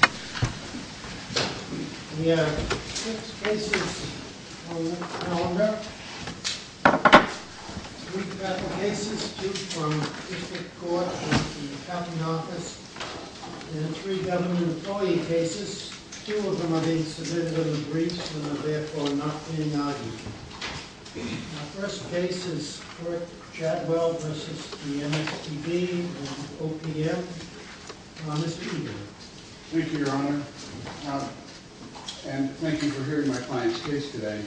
We have six cases on the calendar. Three federal cases, two from district court and the county office, and three government employee cases. Two of them are being submitted in the briefs and are therefore not being argued. Our first case is for Chadwell v. MSPB and OPM. Mr. Peter. Thank you, Your Honor. And thank you for hearing my client's case today.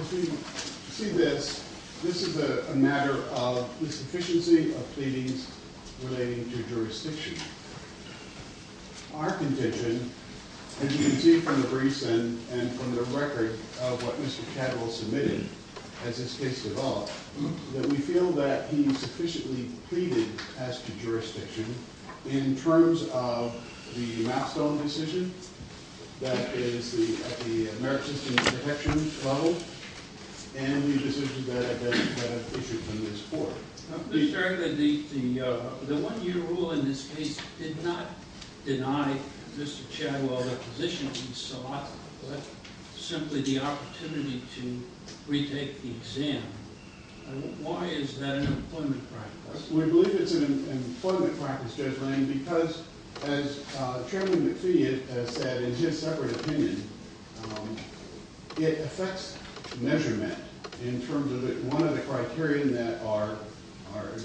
As we see this, this is a matter of insufficiency of pleadings relating to jurisdiction. Our contention, as you can see from the briefs and from the record of what Mr. Chadwell submitted as his case evolved, that we feel that he sufficiently pleaded as to jurisdiction in terms of the Mapstone decision, that is at the merit system protection level, and the decision that I've issued from this court. Mr. Chair, the one-year rule in this case did not deny Mr. Chadwell the position he sought, but simply the opportunity to retake the exam. Why is that an employment practice? We believe it's an employment practice, Judge Lane, because as Chairman McPhee has said in his separate opinion, it affects measurement in terms of one of the criteria that are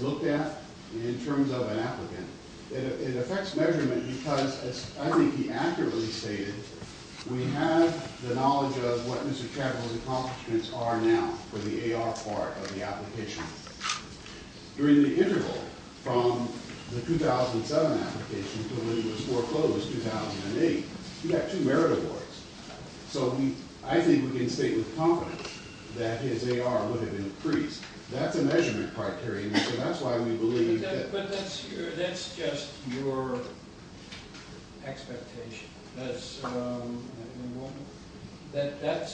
looked at in terms of an applicant. It affects measurement because, as I think he accurately stated, we have the knowledge of what Mr. Chadwell's accomplishments are now for the AR part of the application. During the interval from the 2007 application to when it was foreclosed in 2008, he had two merit awards, so I think we can state with confidence that his AR would have been increased. That's a measurement criterion, so that's why we believe it did. But that's just your expectation. That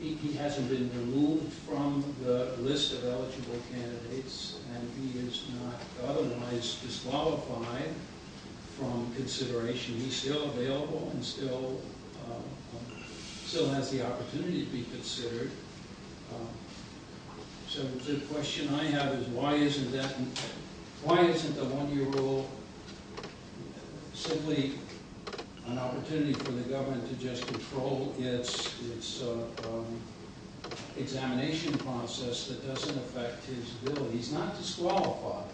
he hasn't been removed from the list of eligible candidates, and he is not otherwise disqualified from consideration. He's still available and still has the opportunity to be considered. So the question I have is why isn't the one-year rule simply an opportunity for the government to just control its examination process that doesn't affect his ability? He's not disqualified,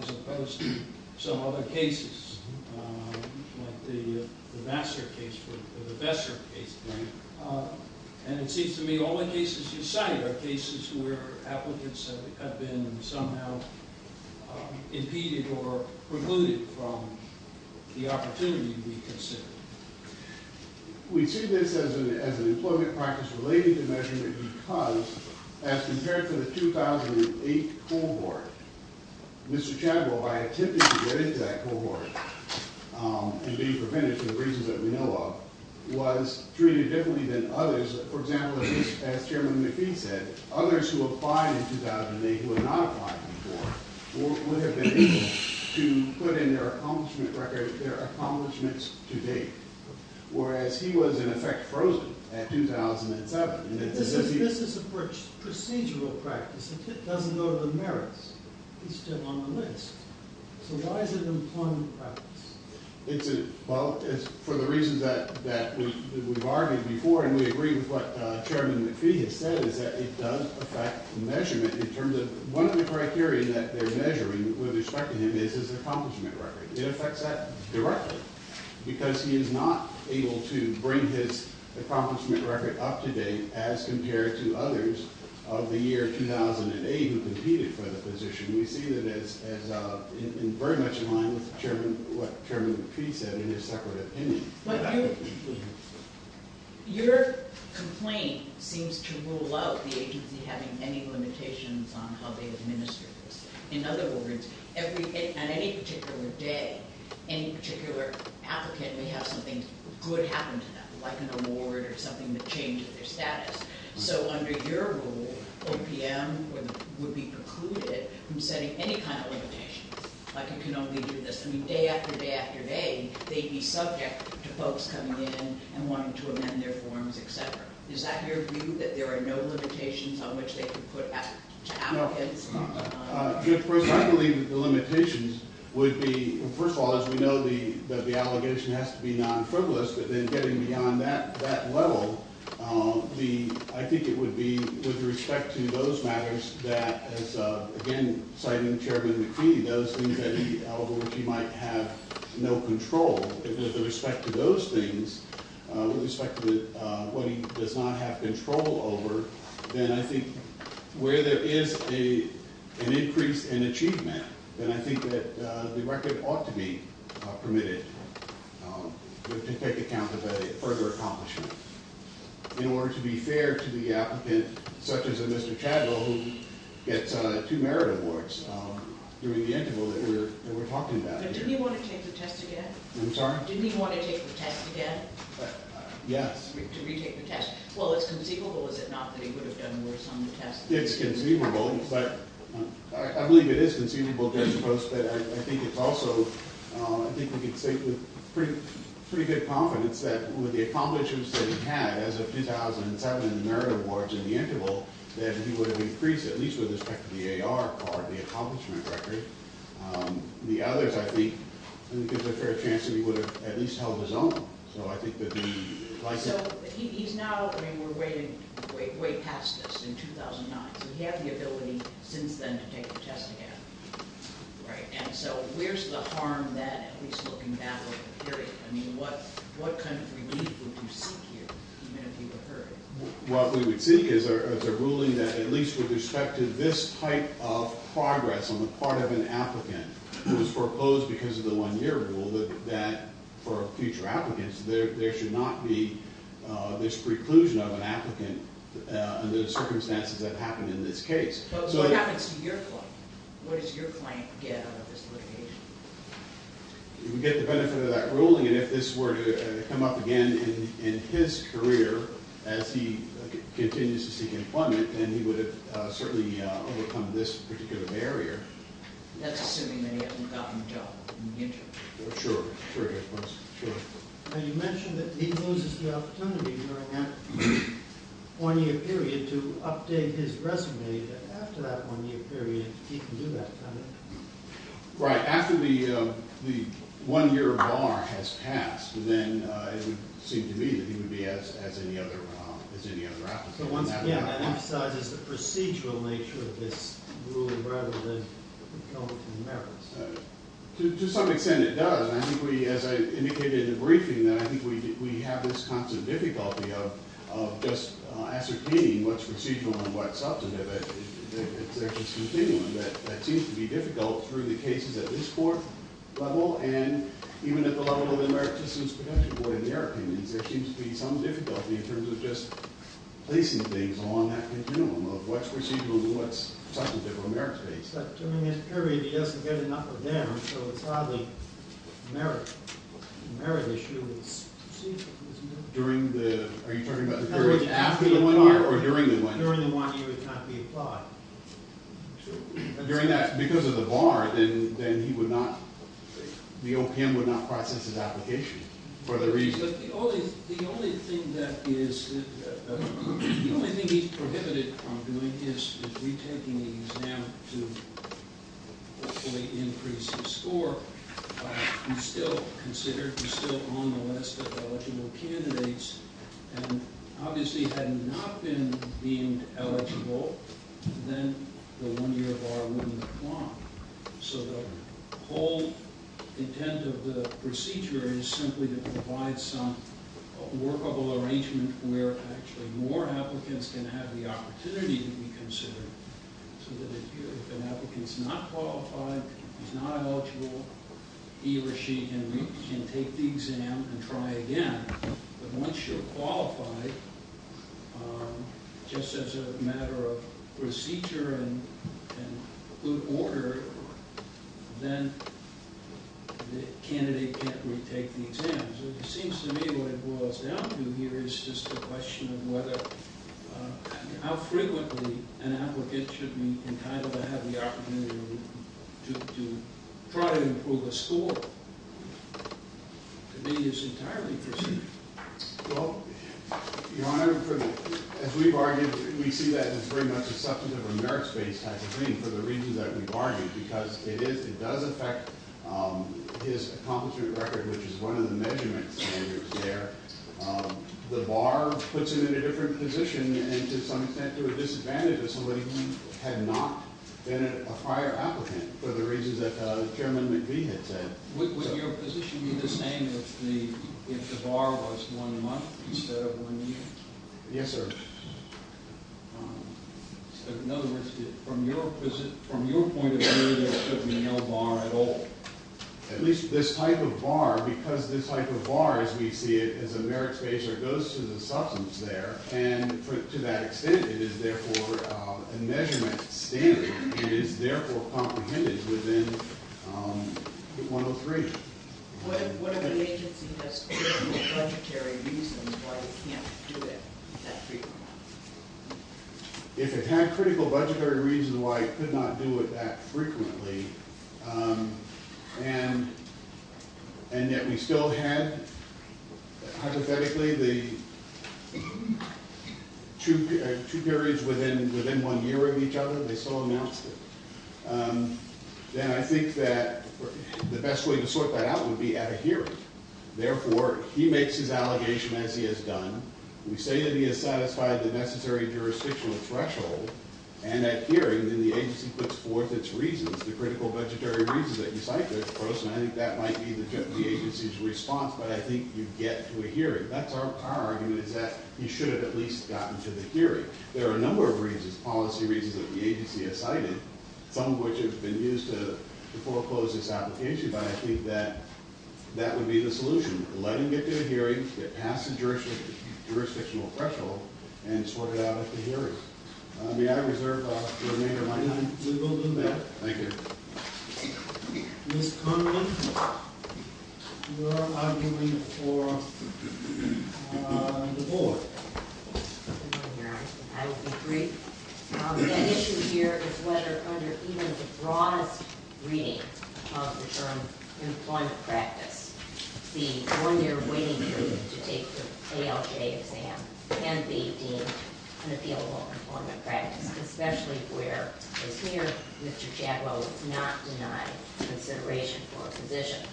as opposed to some other cases, like the Vassar case or the Vessar case, and it seems to me all the cases you cite are cases where applicants have been somehow impeded or precluded from the opportunity to be considered. We see this as an employment practice related to measurement because, as compared to the 2008 cohort, Mr. Chadwell, by attempting to get into that cohort and being prevented for the reasons that we know of, was treated differently than others, for example, at least as Chairman McPhee said, that others who applied in 2008 who had not applied before would have been able to put in their accomplishments to date, whereas he was, in effect, frozen at 2007. This is a procedural practice. If it doesn't go to the merits, he's still on the list. So why is it an employment practice? Well, for the reasons that we've argued before, and we agree with what Chairman McPhee has said, is that it does affect measurement in terms of one of the criteria that they're measuring with respect to him is his accomplishment record. It affects that directly because he is not able to bring his accomplishment record up to date as compared to others of the year 2008 who competed for the position. We see that as very much in line with what Chairman McPhee said in his separate opinion. Your complaint seems to rule out the agency having any limitations on how they administer this. In other words, on any particular day, any particular applicant may have something good happen to them, like an award or something that changes their status. So under your rule, OPM would be precluded from setting any kind of limitations, like you can only do this day after day after day. They'd be subject to folks coming in and wanting to amend their forms, et cetera. Is that your view, that there are no limitations on which they can put to applicants? No. First, I believe the limitations would be, first of all, as we know, that the allegation has to be non-frivolous, but then getting beyond that level, I think it would be with respect to those matters that, as again citing Chairman McPhee, those things that he might have no control. With respect to those things, with respect to what he does not have control over, then I think where there is an increase in achievement, then I think that the record ought to be permitted to take account of a further accomplishment. In order to be fair to the applicant, such as a Mr. Chadlow who gets two merit awards during the interval that we're talking about. But didn't he want to take the test again? I'm sorry? Didn't he want to take the test again? Yes. To retake the test. Well, it's conceivable, is it not, that he would have done worse on the test? It's conceivable, but I believe it is conceivable juxtaposed. But I think it's also, I think we can say with pretty good confidence that with the accomplishments that he had as of 2007, the merit awards in the interval, that he would have increased, at least with respect to the AR card, the accomplishment record. The others, I think, I think there's a fair chance that he would have at least held his own. So I think that he would like that. So he's now, I mean, we're way past this, in 2009. So he had the ability since then to take the test again. Right. And so where's the harm then, at least looking back over the period? I mean, what kind of relief would you seek here, even if you were hurt? What we would seek is a ruling that at least with respect to this type of progress on the part of an applicant who was proposed because of the one-year rule, that for future applicants, there should not be this preclusion of an applicant under the circumstances that happened in this case. But what happens to your client? What does your client get out of this litigation? He would get the benefit of that ruling, and if this were to come up again in his career as he continues to seek employment, then he would have certainly overcome this particular barrier. That's assuming that he hasn't gotten a job in the interim. Sure, sure. Now you mentioned that he loses the opportunity during that one-year period to update his resume. After that one-year period, he can do that, can't he? Right. After the one-year bar has passed, then it would seem to me that he would be as any other applicant. So once again, that emphasizes the procedural nature of this ruling rather than going to the merits. To some extent it does, and I think we, as I indicated in the briefing, that I think we have this constant difficulty of just ascertaining what's procedural and what's substantive. It's actually something that seems to be difficult through the cases at this court level and even at the level of the American Citizens Protection Board in their opinions. There seems to be some difficulty in terms of just placing things along that continuum of what's procedural and what's substantive or merits-based. But during this period, he doesn't get enough of them, so it's hardly merit. The merit issue is procedural, isn't it? During the – are you talking about the period after the one-year or during the one-year? During the one-year, he would not be applied. During that – because of the bar, then he would not – the OPM would not process his application for the reason. The only thing that is – the only thing he prohibited from doing is retaking the exam to hopefully increase his score. He's still considered – he's still on the list of eligible candidates and obviously had not been deemed eligible, then the one-year bar wouldn't apply. So the whole intent of the procedure is simply to provide some workable arrangement where actually more applicants can have the opportunity to be considered so that if an applicant's not qualified, he's not eligible, he or she can take the exam and try again. But once you're qualified, just as a matter of procedure and good order, then the candidate can't retake the exam. So it seems to me what it boils down to here is just a question of whether – how frequently an applicant should be entitled to have the opportunity to try and improve his score. To me, it's entirely perceived. Well, Your Honor, as we've argued, we see that as very much a substantive or merits-based type of thing for the reasons that we've argued because it is – it does affect his accomplishment record, which is one of the measurement standards there. The bar puts him in a different position and to some extent to a disadvantage of somebody who had not been a prior applicant for the reasons that Chairman McVie had said. Would your position be the same if the bar was one month instead of one year? Yes, sir. So in other words, from your point of view, there should be no bar at all? At least this type of bar because this type of bar, as we see it, is a merits-based or goes to the substance there, and to that extent, it is therefore a measurement standard and is therefore comprehended within 103. What if the agency has critical budgetary reasons why it can't do it that frequently? If it had critical budgetary reasons why it could not do it that frequently and yet we still had, hypothetically, the two periods within one year of each other, they still announced it, then I think that the best way to sort that out would be at a hearing. Therefore, he makes his allegation as he has done. We say that he has satisfied the necessary jurisdictional threshold, and at hearing, then the agency puts forth its reasons, the critical budgetary reasons that he cited, of course, and I think that might be the agency's response, but I think you get to a hearing. That's our argument is that he should have at least gotten to the hearing. There are a number of reasons, policy reasons, that the agency has cited, some of which have been used to foreclose this application, but I think that that would be the solution, let him get to a hearing, get past the jurisdictional threshold, and sort it out at the hearing. May I reserve the remainder of my time? We will do that. Thank you. Ms. Connelly, you are arguing for the board. I will be brief. The issue here is whether under even the broadest reading of the term employment practice, the one-year waiting period to take the ALJ exam can be deemed an appealable employment practice, especially where, as here, Mr. Chatwell has not denied consideration for a position.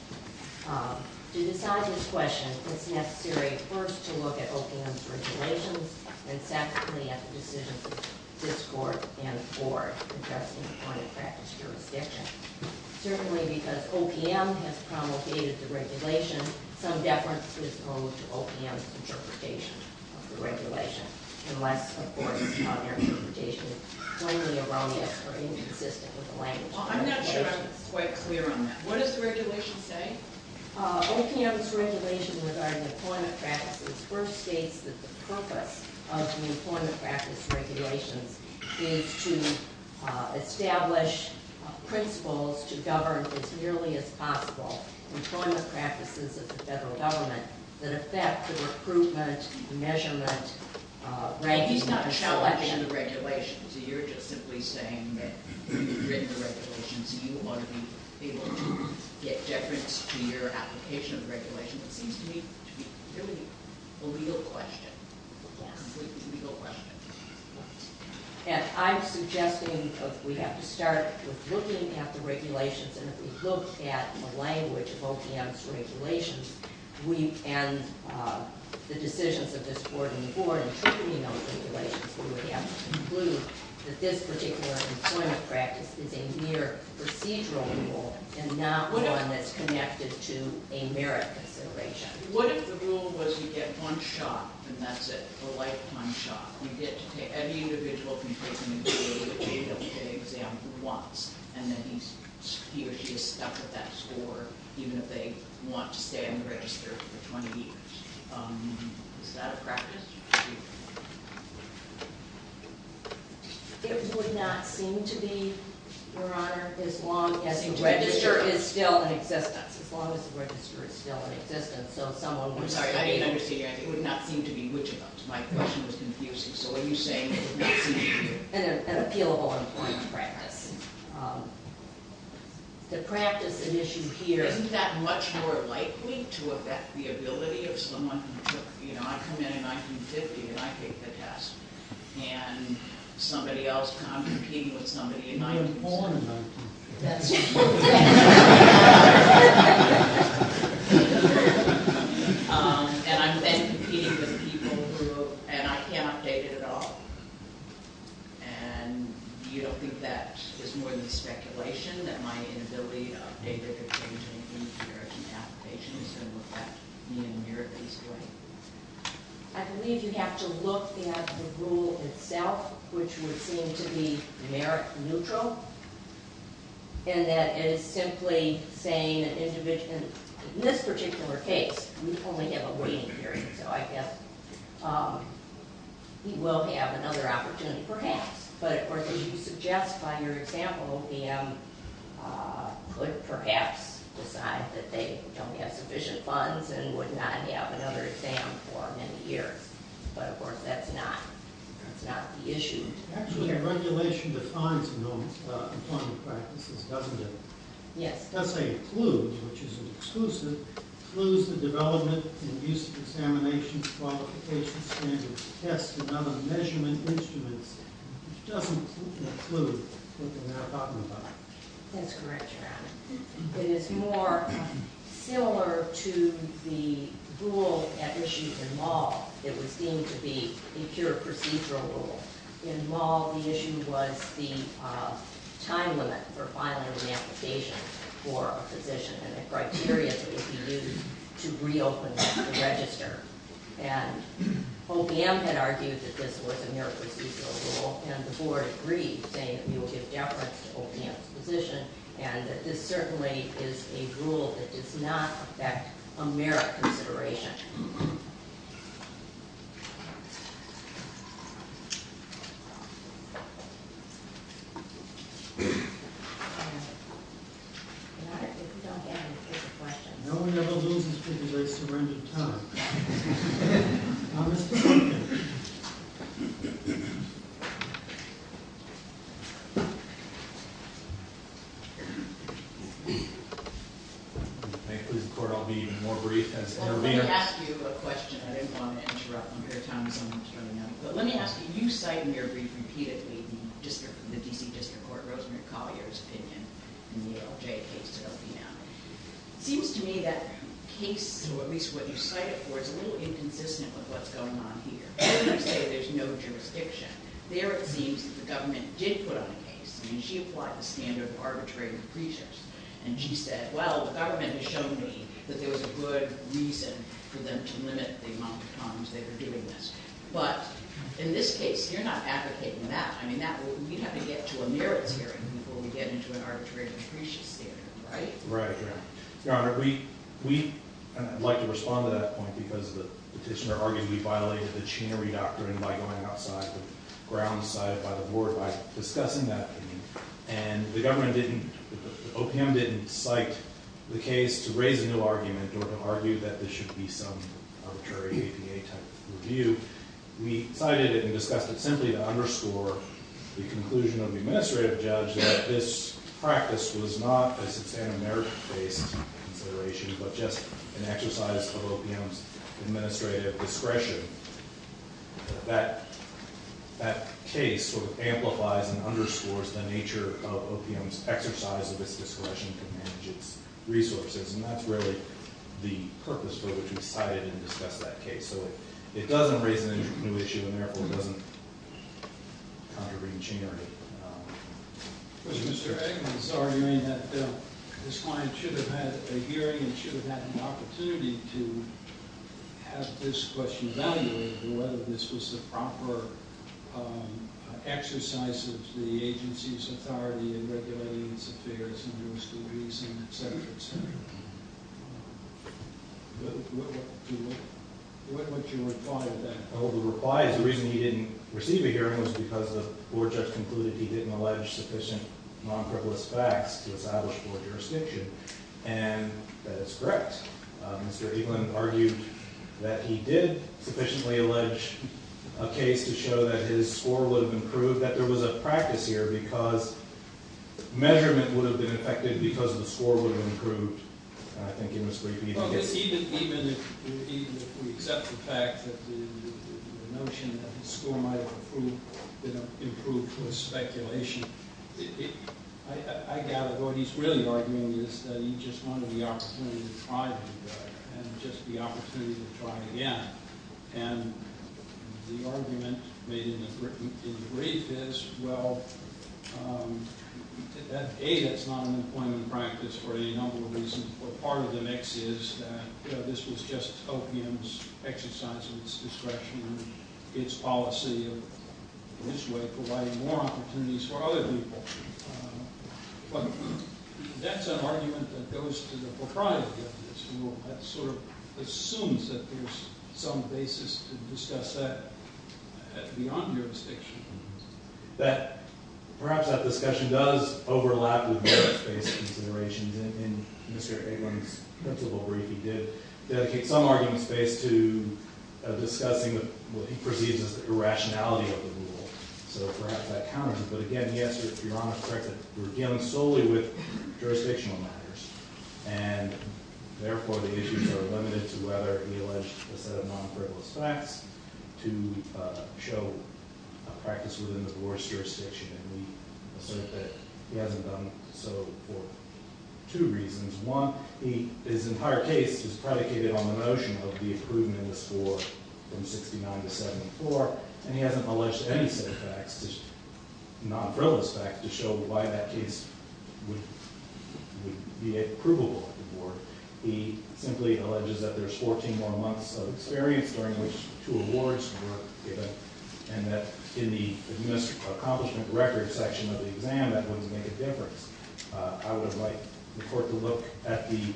To decide this question, it's necessary first to look at OPM's regulations and secondly at the decisions of this court and the board addressing the point of practice jurisdiction. Certainly because OPM has promulgated the regulation, some deference is owed to OPM's interpretation of the regulation, unless, of course, their interpretation is plainly erroneous or inconsistent with the language. I'm not sure I'm quite clear on that. What does the regulation say? OPM's regulation regarding employment practices first states that the purpose of the employment practice regulations is to establish principles to govern as nearly as possible employment practices of the federal government that affect the recruitment, measurement, regulation... He's not challenging the regulations. You're just simply saying that you've written the regulations and you want to be able to get deference to your application of the regulation. It seems to me to be really a legal question, a completely legal question. And I'm suggesting we have to start with looking at the regulations and if we look at the language of OPM's regulations, and the decisions of this board and the board interpreting those regulations, we would have to conclude that this particular employment practice is a mere procedural rule and not one that's connected to a merit consideration. What if the rule was you get one shot, and that's it, a lifetime shot? You get to take every individual who's taken the AWK exam once, and then he or she is stuck with that score even if they want to stay unregistered for 20 years. Is that a practice? It would not seem to be, Your Honor, as long as the register is still in existence. As long as the register is still in existence. I'm sorry, I didn't understand your answer. It would not seem to be, which of those? My question was confusing. So are you saying it would not seem to be? An appealable employment practice. The practice in issue here... Isn't that much more likely to affect the ability of someone who took, you know, I come in in 1950 and I take the test, and somebody else can't compete with somebody in 1950. You were born in 1950. That's true. And I'm then competing with people who... And I can't update it at all. And you don't think that is more than speculation, that my inability to update it if they were taking the American application is going to affect me in an American's way? I believe you have to look at the rule itself, which would seem to be merit neutral. And that is simply saying that in this particular case, we only have a waiting period. So I guess we will have another opportunity, perhaps. But of course, as you suggest by your example, the M could perhaps decide that they don't have sufficient funds and would not have another exam for many years. But of course, that's not the issue here. Actually, regulation defines employment practices, doesn't it? Yes. That's a CLU, which is an exclusive. CLU is the Development and Use of Examination Qualification Standards Test and Other Measurement Instruments. It doesn't include what we're now talking about. That's correct, Your Honor. It is more similar to the rule at issue in law that would seem to be a pure procedural rule. In law, the issue was the time limit for filing an application for a position and the criteria that would be used to reopen the register. And OPM had argued that this was a mere procedural rule, and the Board agreed, saying that we will give deference to OPM's position and that this certainly is a rule that does not affect merit consideration. Thank you, Your Honor. Your Honor, if you don't have any further questions. No one ever loses because they surrender time. Congress? May I please record I'll be even more brief as intervener? Well, let me ask you a question. I didn't want to interrupt. I'm going to tell you something that's coming up. But let me ask you. You cite in your brief repeatedly the D.C. District Court, Rosemary Collier's opinion in the LJ case that will be now. It seems to me that case, or at least what you cite it for, is a little inconsistent with what's going on here. When you say there's no jurisdiction, there it seems that the government did put on a case. I mean, she applied the standard of arbitrary and imprecious. And she said, well, the government has shown me that there was a good reason for them to limit the amount of times they were doing this. But in this case, you're not advocating that. I mean, you'd have to get to a merits hearing before we get into an arbitrary and imprecious theory, right? Right. Your Honor, we, and I'd like to respond to that point, because the petitioner argued we violated the Chinnery Doctrine by going outside the grounds cited by the board by discussing that opinion. And the government didn't, the OPM didn't cite the case to raise a new argument or to argue that there should be some arbitrary APA type review. We cited it and discussed it simply to underscore the conclusion of the administrative judge that this practice was not, as it's in a merit-based consideration, but just an exercise of OPM's administrative discretion. That case sort of amplifies and underscores the nature of OPM's exercise of its discretion to manage its resources. And that's really the purpose for which we cited and discussed that case. So it doesn't raise a new issue and therefore doesn't contravene Chinnery. Mr. Eggman is arguing that this client should have had a hearing and should have had an opportunity to have this question evaluated, whether this was the proper exercise of the agency's authority in regulating its affairs in those degrees and et cetera, et cetera. What was your reply to that? Oh, the reply is the reason he didn't receive a hearing was because the board judge concluded he didn't allege sufficient non-criminalist facts to establish board jurisdiction. And that is correct. Mr. Eggman argued that he did sufficiently allege a case to show that his score would have improved, that there was a practice here because measurement would have been affected because the score would have improved. I think you must repeat the question. Even if we accept the fact that the notion that the score might have improved was speculation, I gather what he's really arguing is that he just wanted the opportunity to try to do that and just the opportunity to try again. And the argument made in the brief is, well, A, that's not an employment practice for any number of reasons, but part of the mix is that this was just OPM's exercise of its discretion and its policy in this way providing more opportunities for other people. But that's an argument that goes to the propriety of this rule. That sort of assumes that there's some basis to discuss that beyond jurisdictional matters. Perhaps that discussion does overlap with merit-based considerations. In Mr. Eggman's principal brief, he did dedicate some argument space to discussing what he perceives as the irrationality of the rule. So perhaps that counters it. But again, yes, you're correct that we're dealing solely with jurisdictional matters. And therefore, the issues are limited to whether he alleged a set of non-frivolous facts to show a practice within the board's jurisdiction. And we assert that he hasn't done so for two reasons. One, his entire case is predicated on the notion of the improvement of the score from 69 to 74, and he hasn't alleged any set of facts, non-frivolous facts, to show why that case would be approvable to the board. He simply alleges that there's 14 more months of experience during which two awards were given and that in the missed accomplishment record section of the exam, that wouldn't make a difference. I would like the court to look at the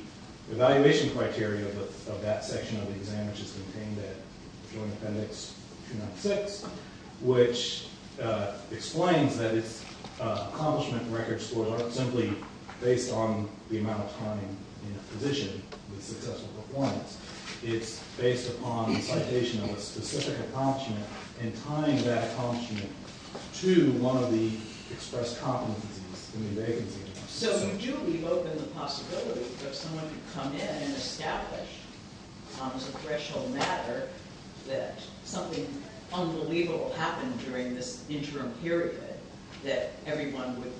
evaluation criteria of that section of the exam, which is contained in Joint Appendix 206, which explains that its accomplishment record scores aren't simply based on the amount of time in a position with successful performance. It's based upon the citation of a specific accomplishment and tying that accomplishment to one of the expressed competencies in the vacancy. So you do leave open the possibility that someone could come in and establish, as a threshold matter, that something unbelievable happened during this interim period that everyone would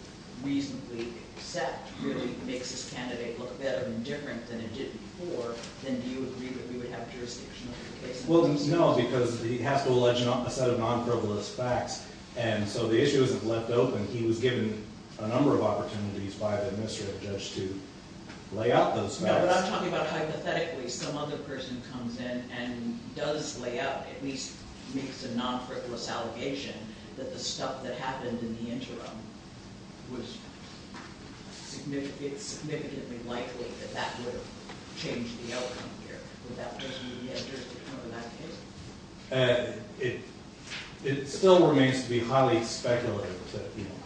reasonably accept really makes this candidate look better and different than it did before, then do you agree that we would have jurisdiction over the case? Well, no, because he has to allege a set of non-frivolous facts. And so the issue isn't left open. He was given a number of opportunities by the administrative judge to lay out those facts. No, but I'm talking about hypothetically some other person comes in and does lay out, at least makes a non-frivolous allegation that the stuff that happened in the interim was significantly likely that that would have changed the outcome here. Would that person be interested to come to that case? It still remains to be highly speculative.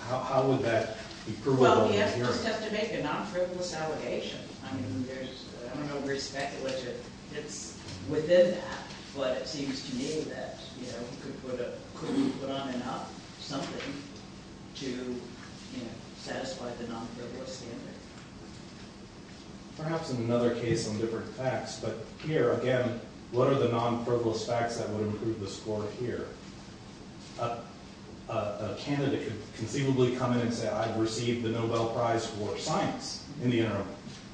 How would that be provable in the interim? Well, he just has to make a non-frivolous allegation. I mean, I don't know where speculative fits within that, but it seems to me that he could put on and off something to satisfy the non-frivolous standard. Perhaps in another case on different facts. But here, again, what are the non-frivolous facts that would improve the score here? A candidate could conceivably come in and say, I've received the Nobel Prize for Science in the interim.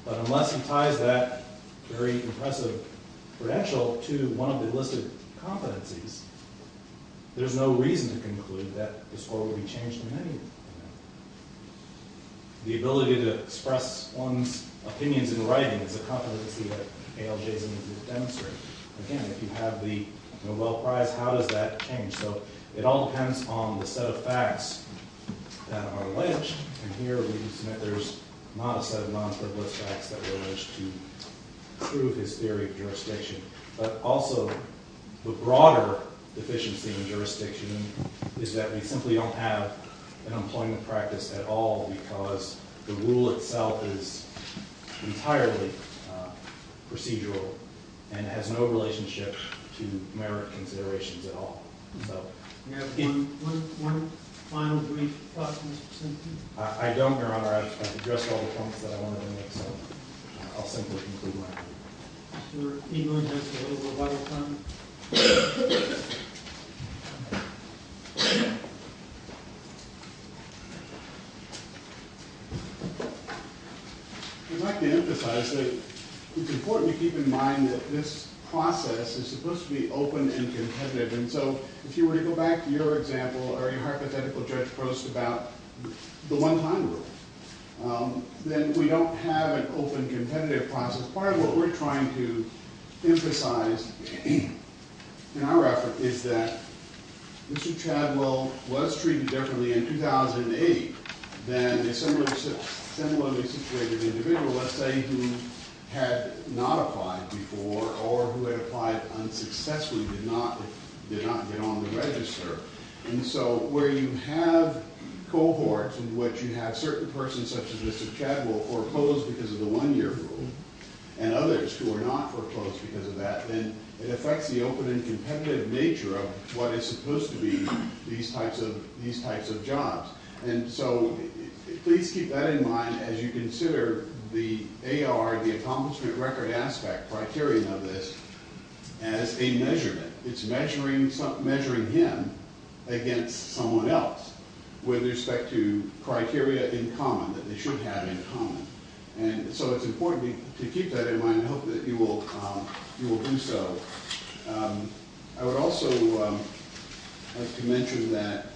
But unless he ties that very impressive credential to one of the enlisted competencies, there's no reason to conclude that the score would be changed in any way. The ability to express one's opinions in writing is a competency that A.L. Jason is demonstrating. Again, if you have the Nobel Prize, how does that change? So it all depends on the set of facts that are alleged. And here, there's not a set of non-frivolous facts that were alleged to prove his theory of jurisdiction. But also, the broader deficiency in jurisdiction is that we simply don't have an employment practice at all because the rule itself is entirely procedural and has no relationship to merit considerations at all. Do you have one final brief thought, Mr. Sinclair? I don't, Your Honor. I've addressed all the points that I wanted to make, so I'll simply conclude my brief. Mr. Engle, you have a little bit of time. I'd like to emphasize that it's important to keep in mind that this process is supposed to be open and competitive. And so if you were to go back to your example or your hypothetical judge post about the one-time rule, then we don't have an open, competitive process. Part of what we're trying to emphasize in our effort is that Mr. Chadwell was treated differently in 2008 than a similarly situated individual, let's say, who had not applied before or who had applied unsuccessfully, did not get on the register. And so where you have cohorts in which you have certain persons, such as Mr. Chadwell, foreclosed because of the one-year rule and others who are not foreclosed because of that, then it affects the open and competitive nature of what is supposed to be these types of jobs. And so please keep that in mind as you consider the AR, the accomplishment record aspect, criterion of this, as a measurement. It's measuring him against someone else with respect to criteria in common that they should have in common. And so it's important to keep that in mind. I hope that you will do so. I would also like to mention that,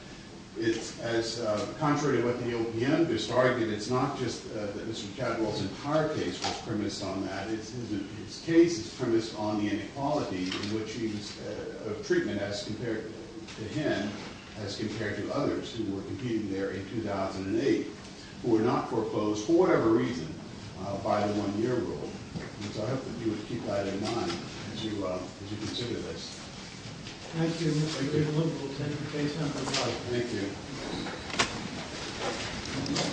contrary to what the OPM just argued, it's not just that Mr. Chadwell's entire case was premised on that. His case is premised on the inequality of treatment as compared to him, as compared to others who were competing there in 2008, who were not foreclosed for whatever reason by the one-year rule. And so I hope that you would keep that in mind as you consider this. Thank you, Mr. Chairman. Thank you. Thank you.